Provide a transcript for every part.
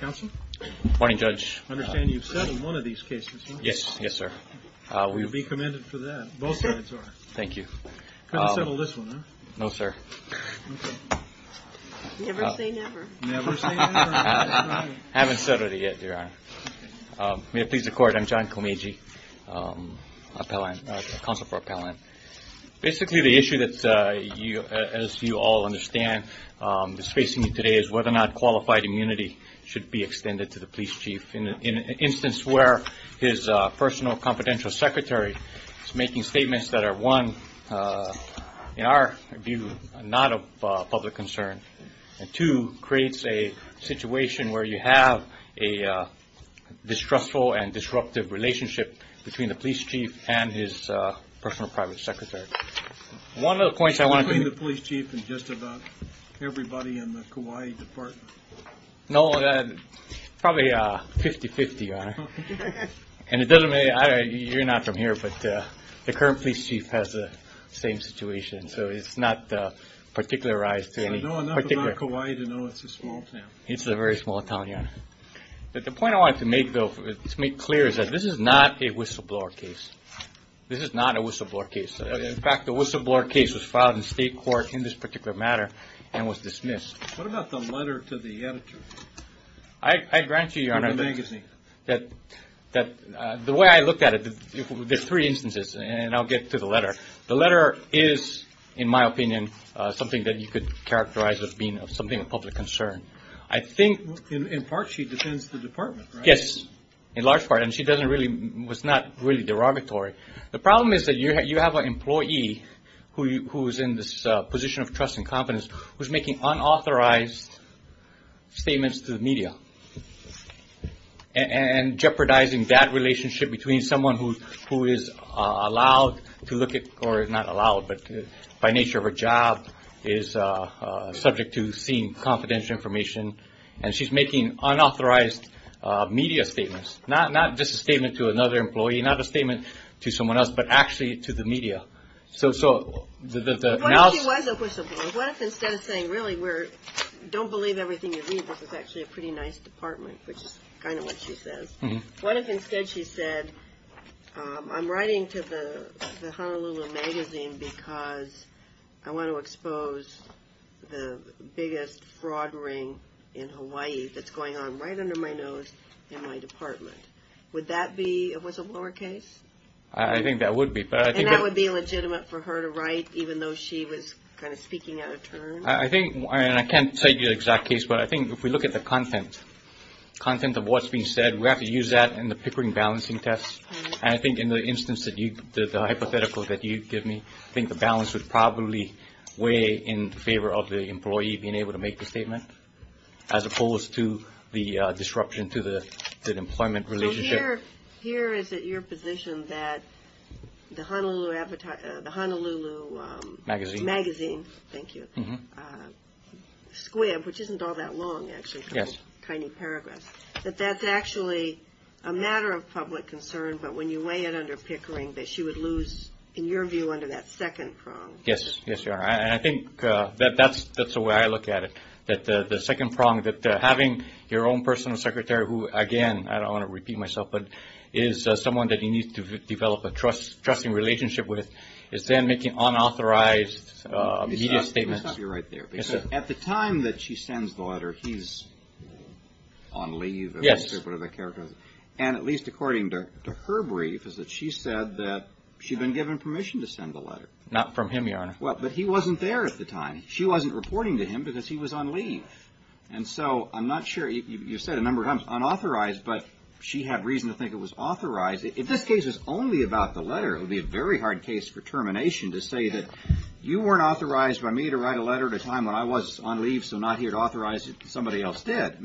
Counsel? Morning, Judge. I understand you've settled one of these cases. Yes, sir. We would be commended for that. Both sides are. Thank you. Couldn't settle this one, huh? No, sir. Never say never. Never say never. I haven't settled it yet, Your Honor. May it please the Court, I'm John Komeiji, Counsel for Appellant. Basically, the issue, as you all understand, is whether or not qualified immunity should be extended to the police chief. In an instance where his personal confidential secretary is making statements that are, one, in our view, not of public concern. And two, creates a situation where you have a distrustful and disruptive relationship between the police chief and his personal private secretary. One of the points I want to... Between the police chief and just about everybody in the Kauai Department. No, probably 50-50, Your Honor. And it doesn't matter, you're not from here, but the current police chief has the same situation. So it's not particularized to any particular... I know enough about Kauai to know it's a small town. It's a very small town, Your Honor. But the point I wanted to make, though, to make clear, is that this is not a whistleblower case. This is not a whistleblower case. In fact, the whistleblower case was filed in state court in this particular matter and was dismissed. What about the letter to the editor? I grant you, Your Honor... In the magazine. The way I looked at it, there's three instances, and I'll get to the letter. The letter is, in my opinion, something that you could characterize as being something of public concern. I think... In part, she defends the department, right? Yes, in large part. And she doesn't really... Was not really derogatory. The problem is that you have an employee who is in this position of trust and confidence who is making unauthorized statements to the media. And jeopardizing that relationship between someone who is allowed to look at... Or not allowed, but by nature of her job is subject to seeing confidential information. And she's making unauthorized media statements. Not just a statement to another employee. Not a statement to someone else, but actually to the media. What if she was a whistleblower? What if instead of saying, really, we're... Don't believe everything you read. This is actually a pretty nice department, which is kind of what she says. What if instead she said, I'm writing to the Honolulu magazine because I want to expose the biggest fraud ring in Hawaii that's going on right under my nose in my department. Would that be a whistleblower case? I think that would be. And that would be legitimate for her to write, even though she was kind of speaking out of turn? I think... And I can't tell you the exact case, but I think if we look at the content, content of what's being said, we have to use that in the Pickering balancing test. And I think in the instance that you... The hypothetical that you give me, I think the balance would probably weigh in favor of the employee being able to make the statement. As opposed to the disruption to the employment relationship. Here is at your position that the Honolulu advertising... The Honolulu... Magazine. Magazine. Thank you. Squibb, which isn't all that long, actually. Yes. Tiny paragraphs. That that's actually a matter of public concern, but when you weigh it under Pickering, that she would lose, in your view, under that second prong. Yes. Yes, Your Honor. And I think that that's the way I look at it. That the second prong, that having your own personal secretary who, again, I don't want to repeat myself, but is someone that you need to develop a trusting relationship with, is then making unauthorized media statements. At the time that she sends the letter, he's on leave. Yes. And at least according to her brief, is that she said that she'd been given permission to send the letter. Not from him, Your Honor. Well, but he wasn't there at the time. She wasn't reporting to him because he was on leave. And so I'm not sure... You said a number of times, unauthorized, but she had reason to think it was authorized. If this case was only about the letter, it would be a very hard case for termination to say that you weren't authorized by me to write a letter at a time when I was on leave, so not here to authorize it. Somebody else did.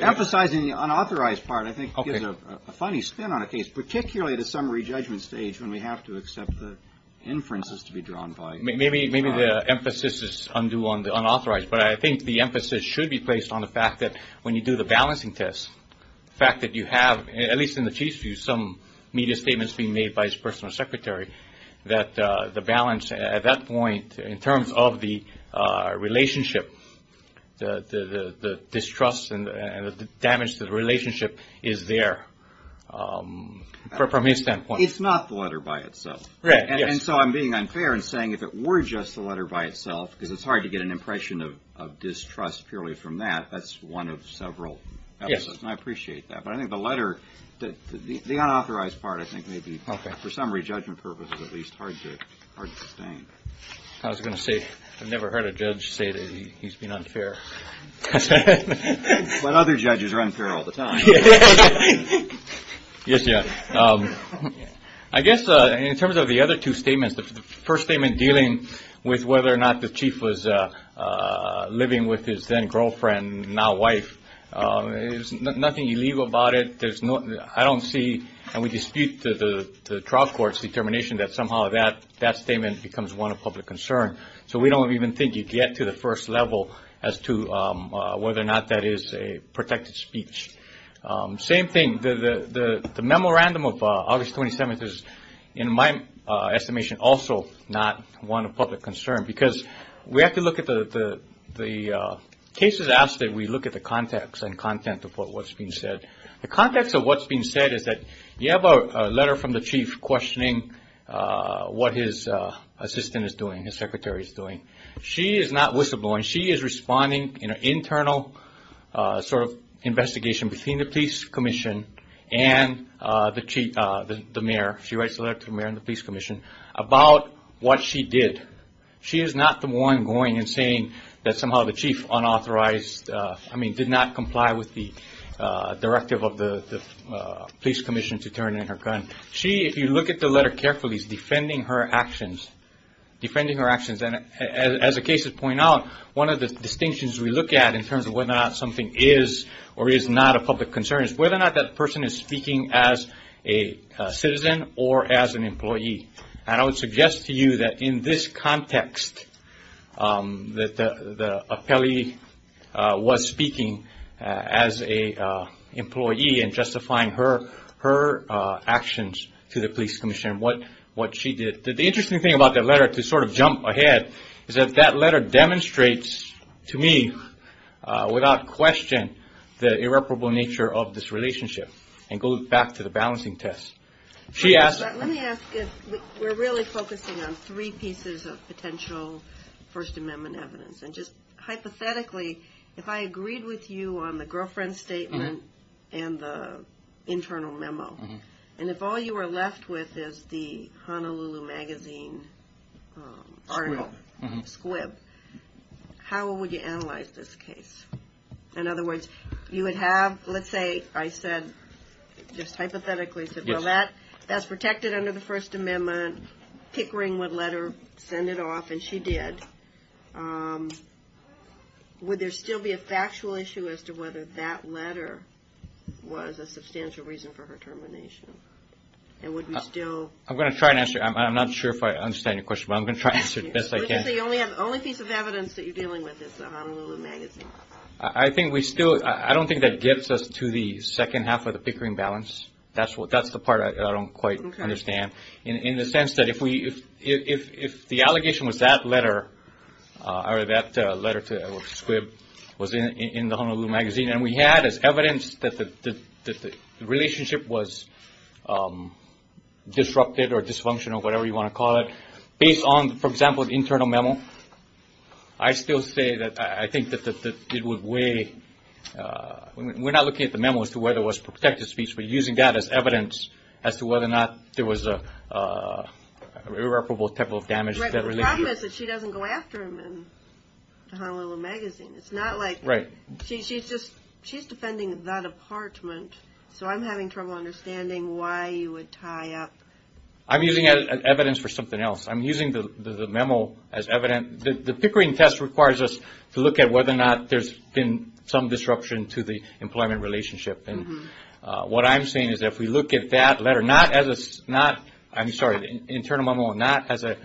Emphasizing the unauthorized part, I think, gives a funny spin on a case, particularly at a summary judgment stage when we have to accept the inferences to be drawn by. Maybe the emphasis is undue on the unauthorized, but I think the emphasis should be placed on the fact that when you do the balancing test, the fact that you have, at least in the chief's view, some media statements being made by his personal secretary, that the balance at that point in terms of the relationship, the distrust and the damage to the relationship is there from his standpoint. It's not the letter by itself. Right. And so I'm being unfair and saying if it were just the letter by itself, because it's hard to get an impression of distrust purely from that, that's one of several. Yes. I appreciate that. But I think the letter, the unauthorized part, I think, may be, for summary judgment purposes at least, hard to sustain. I was going to say, I've never heard a judge say that he's been unfair. But other judges are unfair all the time. Yes, yes. I guess in terms of the other two statements, the first statement dealing with whether or not the chief was living with his then girlfriend, now wife, there's nothing illegal about it. I don't see, and we dispute the trial court's determination that somehow that statement becomes one of public concern. So we don't even think you get to the first level as to whether or not that is a protected speech. Same thing, the memorandum of August 27th is, in my estimation, also not one of public concern. Because we have to look at the cases as we look at the context and content of what's being said. The context of what's being said is that you have a letter from the chief questioning what his assistant is doing, his secretary is doing. She is not whistleblowing. She is responding in an internal sort of investigation between the police commission and the mayor. She writes a letter to the mayor and the police commission about what she did. She is not the one going and saying that somehow the chief did not comply with the directive of the police commission to turn in her gun. She, if you look at the letter carefully, is defending her actions. As the cases point out, one of the distinctions we look at in terms of whether or not something is or is not a public concern is whether or not that person is speaking as a citizen or as an employee. I would suggest to you that in this context, that the appellee was speaking as an employee and justifying her actions to the police commission, what she did. The interesting thing about that letter, to sort of jump ahead, is that that letter demonstrates to me, without question, the irreparable nature of this relationship and goes back to the balancing test. Let me ask if we're really focusing on three pieces of potential First Amendment evidence. And just hypothetically, if I agreed with you on the girlfriend statement and the internal memo, and if all you were left with is the Honolulu Magazine article, squib, how would you analyze this case? In other words, you would have, let's say, I said, just hypothetically, that's protected under the First Amendment, Pickering would let her send it off, and she did. Would there still be a factual issue as to whether that letter was a substantial reason for her termination? And would we still? I'm going to try and answer. I'm not sure if I understand your question, but I'm going to try and answer it the best I can. You only have the only piece of evidence that you're dealing with is the Honolulu Magazine. I don't think that gets us to the second half of the Pickering balance. That's the part I don't quite understand. In the sense that if the allegation was that letter, or that letter to squib, was in the Honolulu Magazine, and we had as evidence that the relationship was disrupted or dysfunctional, whatever you want to call it, based on, for example, the internal memo, I still say that I think that it would weigh, we're not looking at the memo as to whether it was protected speech, but using that as evidence as to whether or not there was an irreparable type of damage. The problem is that she doesn't go after him in the Honolulu Magazine. It's not like she's defending that apartment, so I'm having trouble understanding why you would tie up. I'm using evidence for something else. I'm using the memo as evidence. The Pickering test requires us to look at whether or not there's been some disruption to the employment relationship. And what I'm saying is that if we look at that letter, not as a, I'm sorry, internal memo, not as a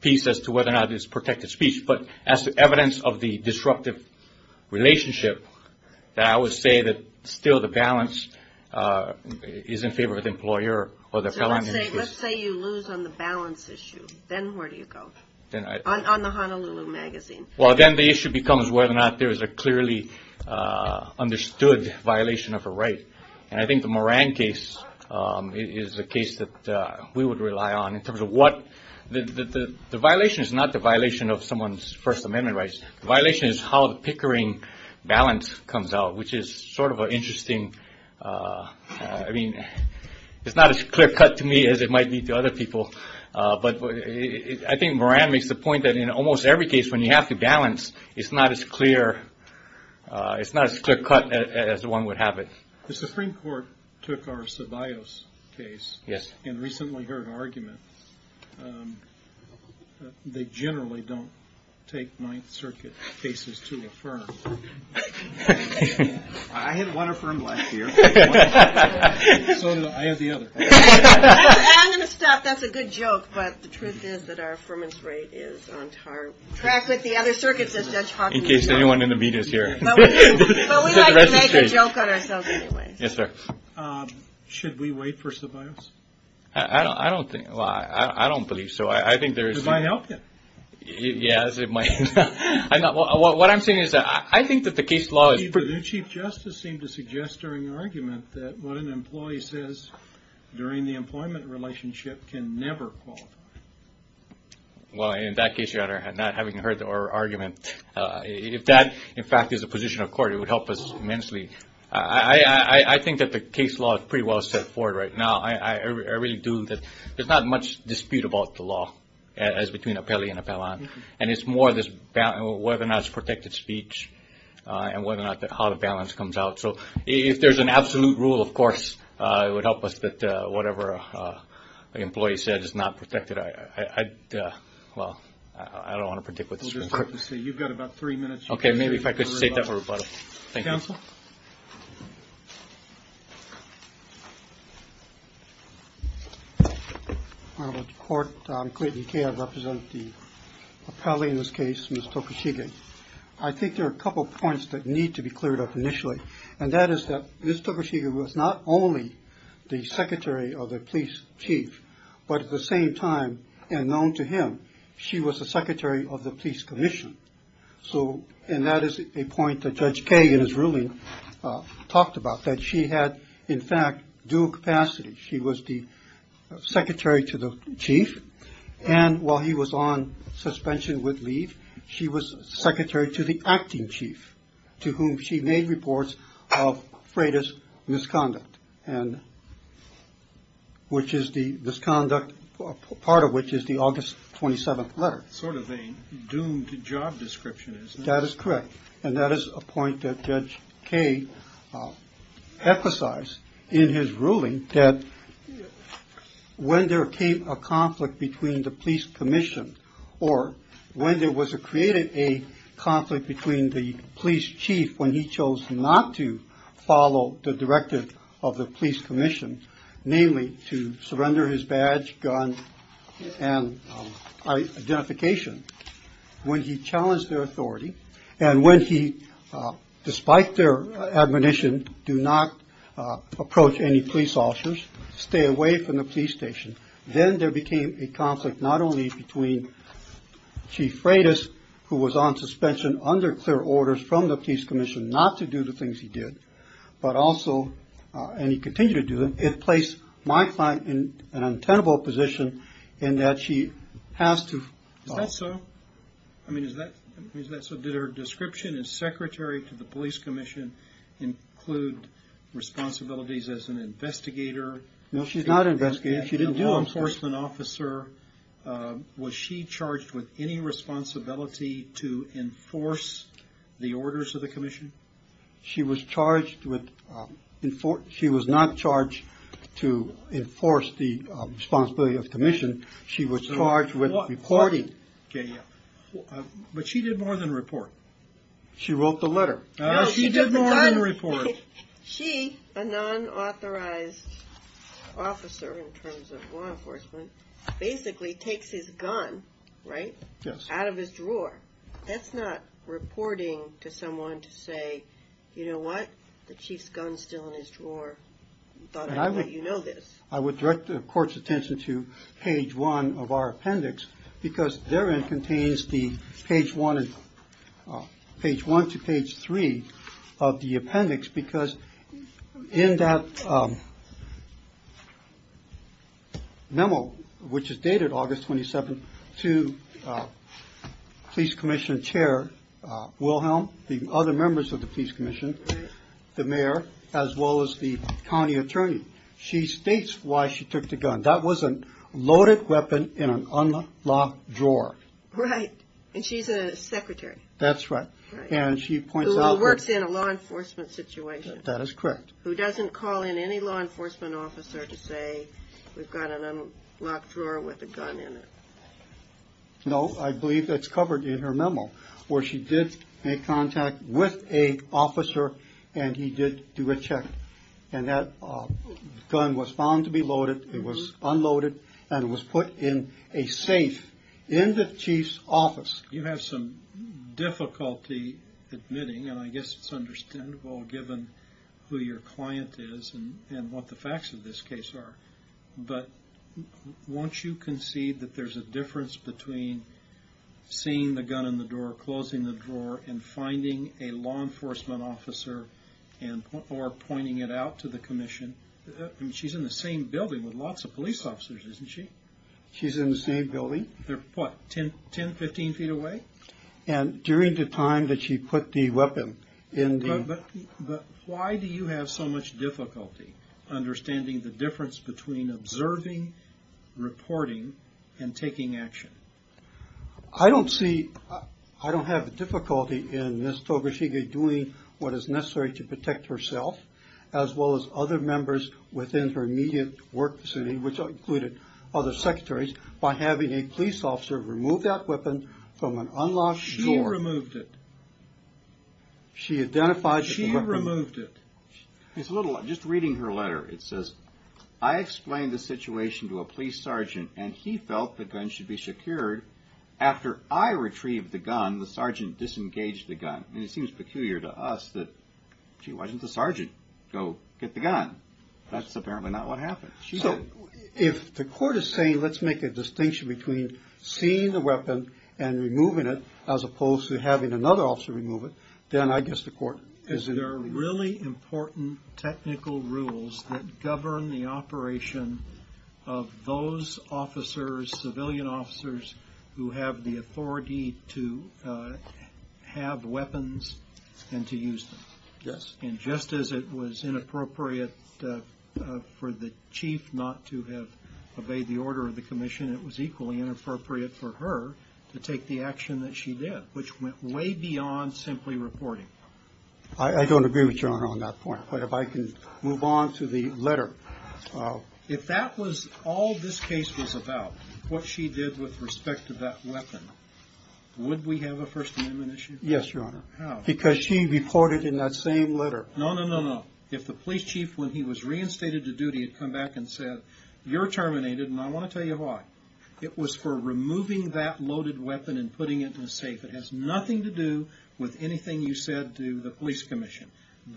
piece as to whether or not it's protected speech, but as evidence of the disruptive relationship, that I would say that still the balance is in favor of the employer or the felon. So let's say you lose on the balance issue. Then where do you go? On the Honolulu Magazine. Well, then the issue becomes whether or not there is a clearly understood violation of a right. And I think the Moran case is a case that we would rely on in terms of what, the violation is not the violation of someone's First Amendment rights. The violation is how the Pickering balance comes out, which is sort of an interesting, I mean, it's not as clear cut to me as it might be to other people, but I think Moran makes the point that in almost every case when you have to balance, it's not as clear, it's not as clear cut as one would have it. The Supreme Court took our Ceballos case and recently heard an argument. They generally don't take Ninth Circuit cases to affirm. I had one affirmed last year, so I have the other. I'm going to stop. That's a good joke, but the truth is that our affirmance rate is on track with the other circuits. In case anyone in the media is here. But we like to make a joke on ourselves anyway. Yes, sir. Should we wait for Ceballos? I don't think, well, I don't believe so. It might help him. Yes, it might. What I'm saying is that I think that the case law is pretty good. Chief Justice seemed to suggest during the argument that what an employee says during the employment relationship can never qualify. Well, in that case, Your Honor, not having heard the argument, if that, in fact, is the position of court, it would help us immensely. I think that the case law is pretty well set forward right now. I really do. There's not much dispute about the law as between Apelli and Apellon, and it's more whether or not it's protected speech and whether or not how the balance comes out. So if there's an absolute rule, of course, it would help us that whatever an employee said is not protected. Well, I don't want to predict what this means. We'll just have to see. You've got about three minutes. Okay. Maybe if I could state that for rebuttal. Thank you. Counsel? Court, I'm Clayton Kaye. I represent the appellee in this case, Ms. Tokushige. I think there are a couple of points that need to be cleared up initially, and that is that Ms. Tokushige was not only the secretary of the police chief, but at the same time, unknown to him, she was the secretary of the police commission. And that is a point that Judge Kaye in his ruling talked about, that she had, in fact, due capacity. She was the secretary to the chief, and while he was on suspension with leave, she was secretary to the acting chief, to whom she made reports of Freitas' misconduct, which is the misconduct, part of which is the August 27th letter. That's sort of a doomed job description, isn't it? That is correct. And that is a point that Judge Kaye emphasized in his ruling, that when there came a conflict between the police commission, or when there was created a conflict between the police chief when he chose not to follow the directive of the police commission, namely to surrender his badge, gun, and identification, when he challenged their authority, and when he, despite their admonition, do not approach any police officers, stay away from the police station, then there became a conflict not only between Chief Freitas, who was on suspension under clear orders from the police commission not to do the things he did, but also, and he continued to do them, it placed my client in an untenable position in that she has to... Is that so? I mean, is that so? Did her description as secretary to the police commission include responsibilities as an investigator? No, she's not an investigator. She didn't do that. A law enforcement officer. Was she charged with any responsibility to enforce the orders of the commission? She was charged with... She was not charged to enforce the responsibility of the commission. She was charged with reporting. But she did more than report. She wrote the letter. No, she did more than report. She, a non-authorized officer in terms of law enforcement, basically takes his gun, right, out of his drawer. That's not reporting to someone to say, you know what, the chief's gun's still in his drawer. You know this. I would direct the court's attention to page one of our appendix because therein contains the page one to page three of the appendix because in that memo, which is dated August 27th, to police commission chair Wilhelm, the other members of the police commission, the mayor, as well as the county attorney. She states why she took the gun. That was a loaded weapon in an unlocked drawer. Right, and she's a secretary. That's right, and she points out... Who works in a law enforcement situation. That is correct. Who doesn't call in any law enforcement officer to say, we've got an unlocked drawer with a gun in it. No, I believe that's covered in her memo, where she did make contact with a officer and he did do a check, and that gun was found to be loaded, it was unloaded, and it was put in a safe in the chief's office. You have some difficulty admitting, and I guess it's understandable given who your client is and what the facts of this case are, but won't you concede that there's a difference between seeing the gun in the drawer, closing the drawer, and finding a law enforcement officer or pointing it out to the commission? She's in the same building with lots of police officers, isn't she? She's in the same building. They're what, 10, 15 feet away? And during the time that she put the weapon in the... But why do you have so much difficulty understanding the difference between observing, reporting, and taking action? I don't see, I don't have difficulty in Ms. Togashige doing what is necessary to protect herself, as well as other members within her immediate work facility, which included other secretaries, by having a police officer remove that weapon from an unlocked drawer. She removed it. She identified the weapon. She removed it. Just reading her letter, it says, I explained the situation to a police sergeant, and he felt the gun should be secured. After I retrieved the gun, the sergeant disengaged the gun. And it seems peculiar to us that she wasn't the sergeant. Go get the gun. That's apparently not what happened. So, if the court is saying, let's make a distinction between seeing the weapon and removing it, as opposed to having another officer remove it, then I guess the court is... There are really important technical rules that govern the operation of those officers, civilian officers, who have the authority to have weapons and to use them. Yes. And just as it was inappropriate for the chief not to have obeyed the order of the commission, it was equally inappropriate for her to take the action that she did, which went way beyond simply reporting. I don't agree with Your Honor on that point. But if I can move on to the letter. If that was all this case was about, what she did with respect to that weapon, would we have a First Amendment issue? Yes, Your Honor. How? Because she reported in that same letter. No, no, no, no. If the police chief, when he was reinstated to duty, had come back and said, you're terminated, and I want to tell you why. It was for removing that loaded weapon and putting it in a safe. It has nothing to do with anything you said to the police commission.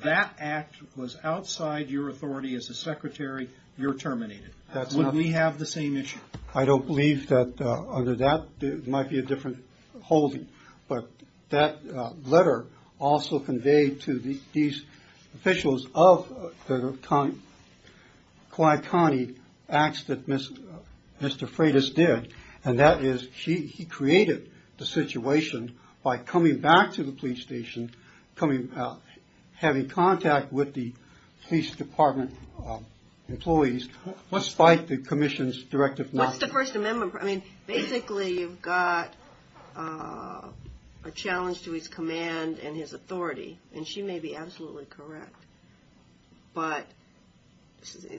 That act was outside your authority as a secretary. You're terminated. That's not... Would we have the same issue? I don't believe that. Under that, there might be a different holding. But that letter also conveyed to these officials of the quiet county acts that Mr. Freitas did, and that is he created the situation by coming back to the police station, having contact with the police department employees. What's by the commission's directive? What's the First Amendment? Basically, you've got a challenge to his command and his authority, and she may be absolutely correct. But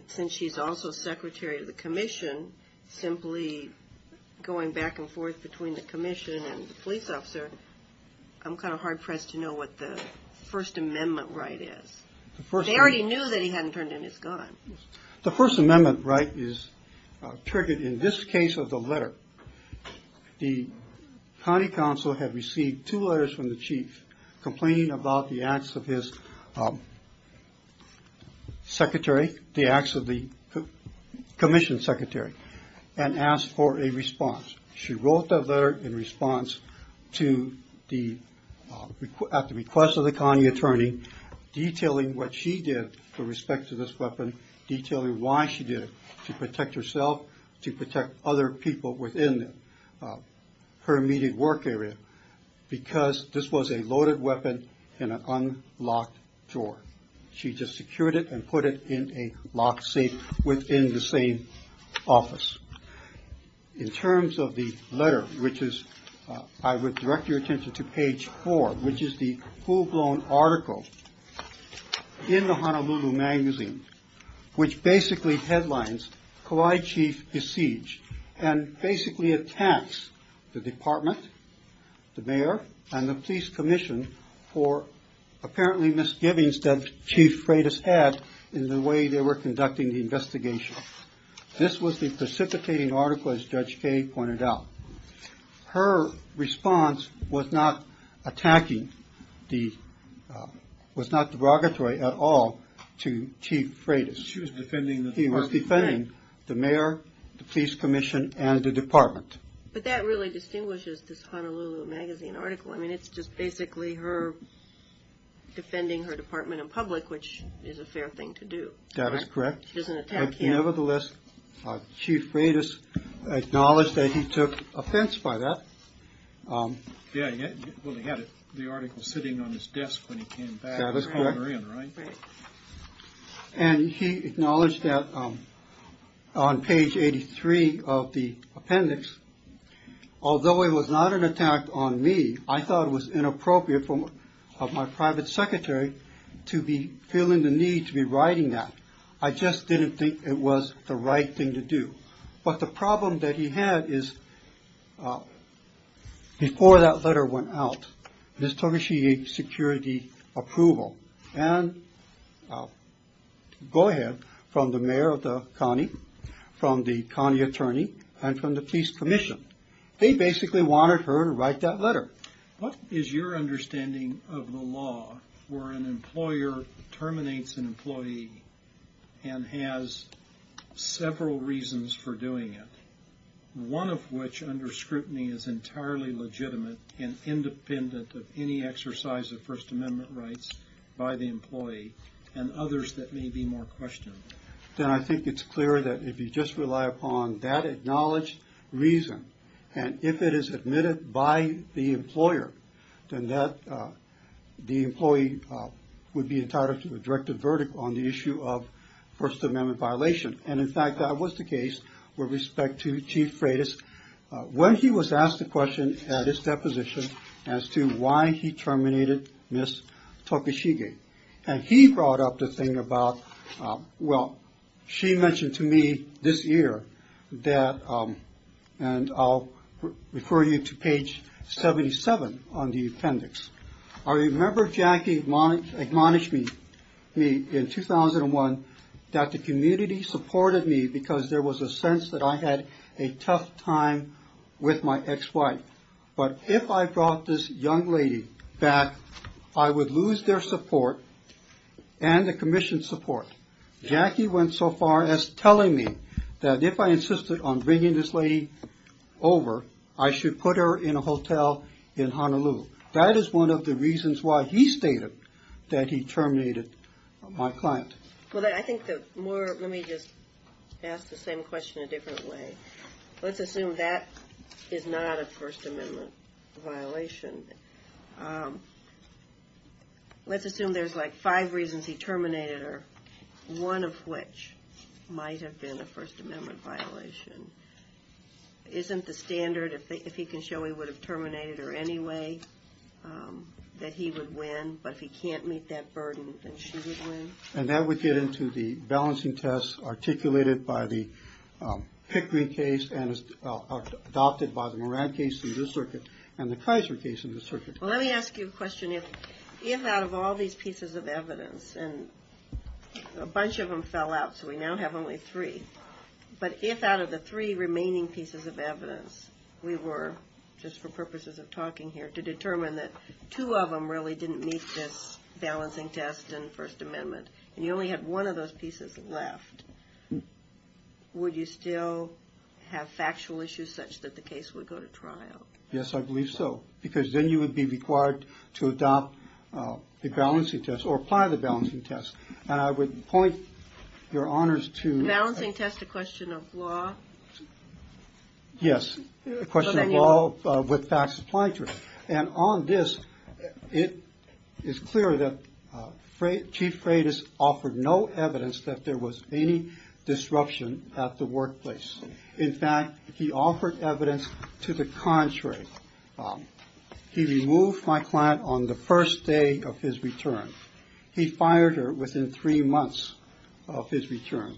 since she's also secretary of the commission, simply going back and forth between the commission and the police officer, I'm kind of hard-pressed to know what the First Amendment right is. They already knew that he hadn't turned in his gun. The First Amendment right is triggered in this case of the letter. The county council had received two letters from the chief complaining about the acts of his secretary, the acts of the commission secretary, and asked for a response. She wrote that letter in response at the request of the county attorney, detailing what she did with respect to this weapon, detailing why she did it to protect herself, to protect other people within her immediate work area, because this was a loaded weapon in an unlocked drawer. She just secured it and put it in a locked safe within the same office. In terms of the letter, I would direct your attention to page four, which is the full-blown article in the Honolulu Magazine, which basically headlines Kauai chief besieged, and basically attacks the department, the mayor, and the police commission for apparently misgivings that Chief Freitas had in the way they were conducting the investigation. This was the precipitating article, as Judge Kaye pointed out. Her response was not attacking, was not derogatory at all to Chief Freitas. He was defending the mayor, the police commission, and the department. But that really distinguishes this Honolulu Magazine article. I mean, it's just basically her defending her department in public, which is a fair thing to do. That is correct. Nevertheless, Chief Freitas acknowledged that he took offense by that. And he acknowledged that on page 83 of the appendix, although it was not an attack on me, I thought it was inappropriate for my private secretary to be feeling the need to be writing that. I just didn't think it was the right thing to do. But the problem that he had is, before that letter went out, Ms. Togeshi gave security approval, and go ahead, from the mayor of the county, from the county attorney, and from the police commission. They basically wanted her to write that letter. What is your understanding of the law where an employer terminates an employee and has several reasons for doing it, one of which, under scrutiny, is entirely legitimate and independent of any exercise of First Amendment rights by the employee, and others that may be more questionable? I think it's clear that if you just rely upon that acknowledged reason, and if it is admitted by the employer, then the employee would be entitled to a directed verdict on the issue of First Amendment violation. In fact, that was the case with respect to Chief Freitas when he was asked the question at his deposition as to why he terminated Ms. Togeshi. He brought up the thing about, well, she mentioned to me this year, and I'll refer you to page 77, on the appendix. I remember Jackie admonished me in 2001 that the community supported me because there was a sense that I had a tough time with my ex-wife. But if I brought this young lady back, I would lose their support and the commission's support. Jackie went so far as telling me that if I insisted on bringing this lady over, I should put her in a hotel in Honolulu. That is one of the reasons why he stated that he terminated my client. Well, I think that more, let me just ask the same question a different way. Let's assume that is not a First Amendment violation. Let's assume there's like five reasons he terminated her, one of which might have been a First Amendment violation. Isn't the standard, if he can show he would have terminated her anyway, that he would win? But if he can't meet that burden, then she would win? And that would get into the balancing tests articulated by the Pickrey case and adopted by the Moran case in this circuit and the Kaiser case in this circuit. Well, let me ask you a question. If out of all these pieces of evidence, and a bunch of them fell out, so we now have only three, but if out of the three remaining pieces of evidence, we were, just for purposes of talking here, to determine that two of them really didn't meet this balancing test and First Amendment, and you only had one of those pieces left, would you still have factual issues such that the case would go to trial? Yes, I believe so. Because then you would be required to adopt the balancing test or apply the balancing test. And I would point your honors to the balancing test, a question of law. Yes, a question of law with facts applied to it. And on this, it is clear that Chief Freitas offered no evidence that there was any disruption at the workplace. In fact, he offered evidence to the contrary. He removed my client on the first day of his return. He fired her within three months of his return.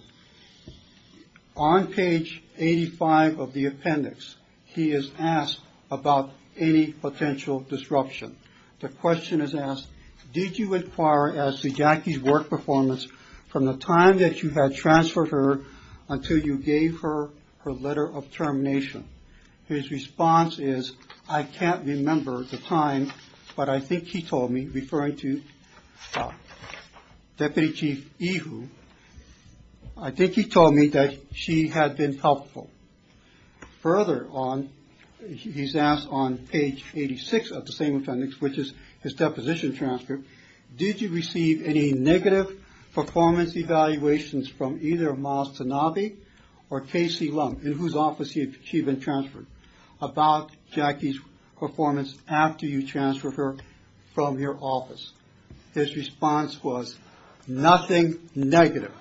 On page 85 of the appendix, he is asked about any potential disruption. The question is asked, did you inquire as to Jackie's work performance from the time that you had transferred her until you gave her her letter of termination? His response is, I can't remember the time, but I think he told me, referring to Deputy Chief Ihu, I think he told me that she had been helpful. Further on, he's asked on page 86 of the same appendix, which is his deposition transcript, did you receive any negative performance evaluations from either Miles Tanabe or Casey Lum, in whose office she had been transferred, about Jackie's performance after you transferred her from your office? His response was, nothing negative.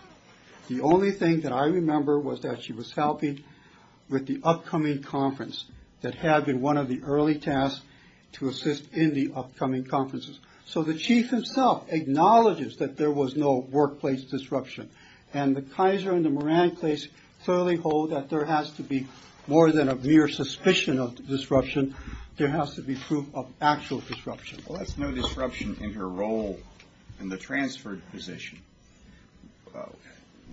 The only thing that I remember was that she was healthy with the upcoming conference that had been one of the early tasks to assist in the upcoming conferences. So the Chief himself acknowledges that there was no workplace disruption. And the Kaiser and the Moran place thoroughly hold that there has to be more than a mere suspicion of disruption, there has to be proof of actual disruption. Well, that's no disruption in her role in the transferred position.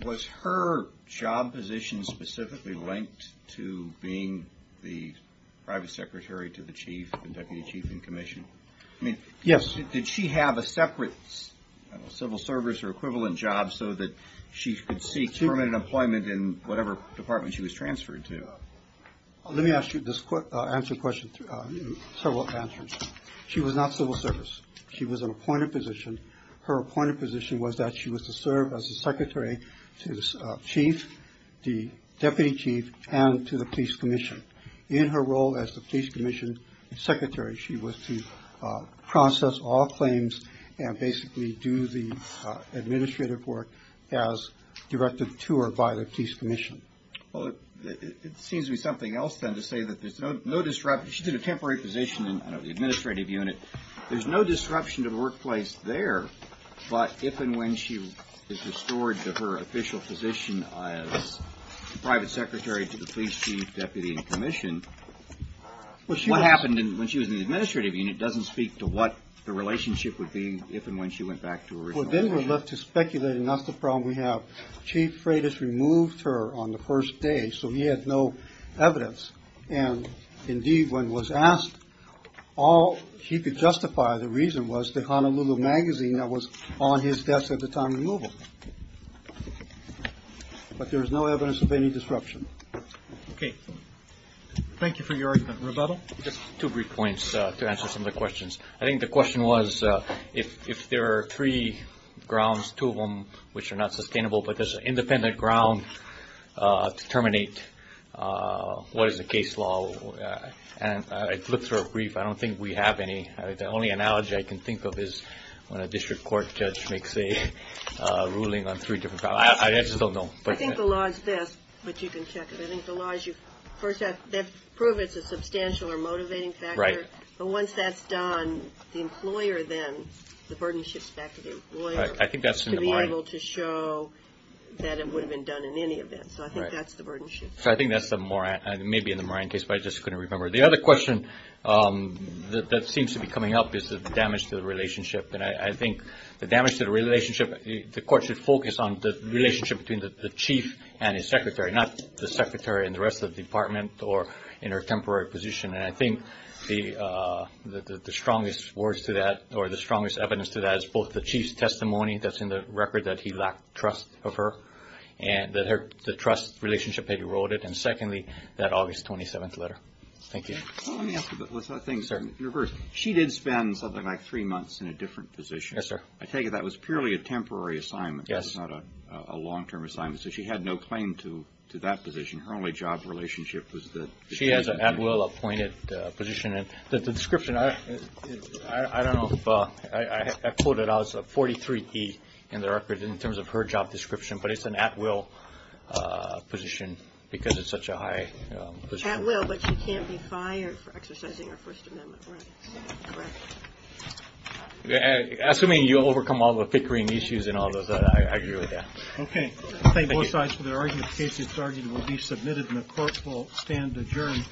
Was her job position specifically linked to being the private secretary to the Chief, the Deputy Chief in commission? Yes. Did she have a separate civil service or equivalent job so that she could seek permanent employment in whatever department she was transferred to? Let me ask you this answer question, several answers. She was not civil service. She was an appointed position. Her appointed position was that she was to serve as the secretary to the Chief, the Deputy Chief, and to the police commission. In her role as the police commission secretary, she was to process all claims and basically do the administrative work as directed to or by the police commission. Well, it seems to be something else then to say that there's no disruption. She did a temporary position in the administrative unit. There's no disruption to the workplace there. But if and when she is restored to her official position as private secretary to the police chief, deputy in commission, what happened when she was in the administrative unit doesn't speak to what the relationship would be if and when she went back to her original position. Well, then we're left to speculate, and that's the problem we have. Chief Freitas removed her on the first day, so he had no evidence. And indeed, when he was asked, all he could justify the reason was the Honolulu magazine that was on his desk at the time of removal. But there is no evidence of any disruption. Okay. Thank you for your argument. Roberto? Just two brief points to answer some of the questions. I think the question was, if there are three grounds, two of them, which are not sustainable, but there's an independent ground to terminate, what is the case law? And I looked through a brief. I don't think we have any. The only analogy I can think of is when a district court judge makes a ruling on three different grounds. I just don't know. I think the law is this, but you can check it. I think the law is you first have to prove it's a substantial or motivating factor. Right. But once that's done, the employer then, the burden shifts back to the employer. Right. I think that's in the Moran. To be able to show that it would have been done in any event. So I think that's the burden shift. So I think that's the Moran. It may be in the Moran case, but I just couldn't remember. The other question that seems to be coming up is the damage to the relationship. And I think the damage to the relationship, the court should focus on the relationship between the chief and his secretary, not the secretary and the rest of the department or in her temporary position. And I think the strongest words to that, or the strongest evidence to that, is both the chief's testimony that's in the record that he lacked trust of her and that the trust relationship had eroded. And secondly, that August 27th letter. Thank you. Let me ask you, but let's not think in reverse. She did spend something like three months in a different position. Yes, sir. I take it that was purely a temporary assignment. Yes. It's not a long-term assignment. So she had no claim to that position. Her only job relationship was the chief. She has an at-will appointed position. The description, I don't know if I quoted, I was at 43P in the record in terms of her job description, but it's an at-will position because it's such a high position. At-will, but she can't be fired for exercising her First Amendment rights. Correct. Assuming you overcome all the pickering issues and all of that, I agree with that. Okay. Thank you. Thank both sides for their arguments. The case, it's argued, will be submitted and the court will stand adjourned.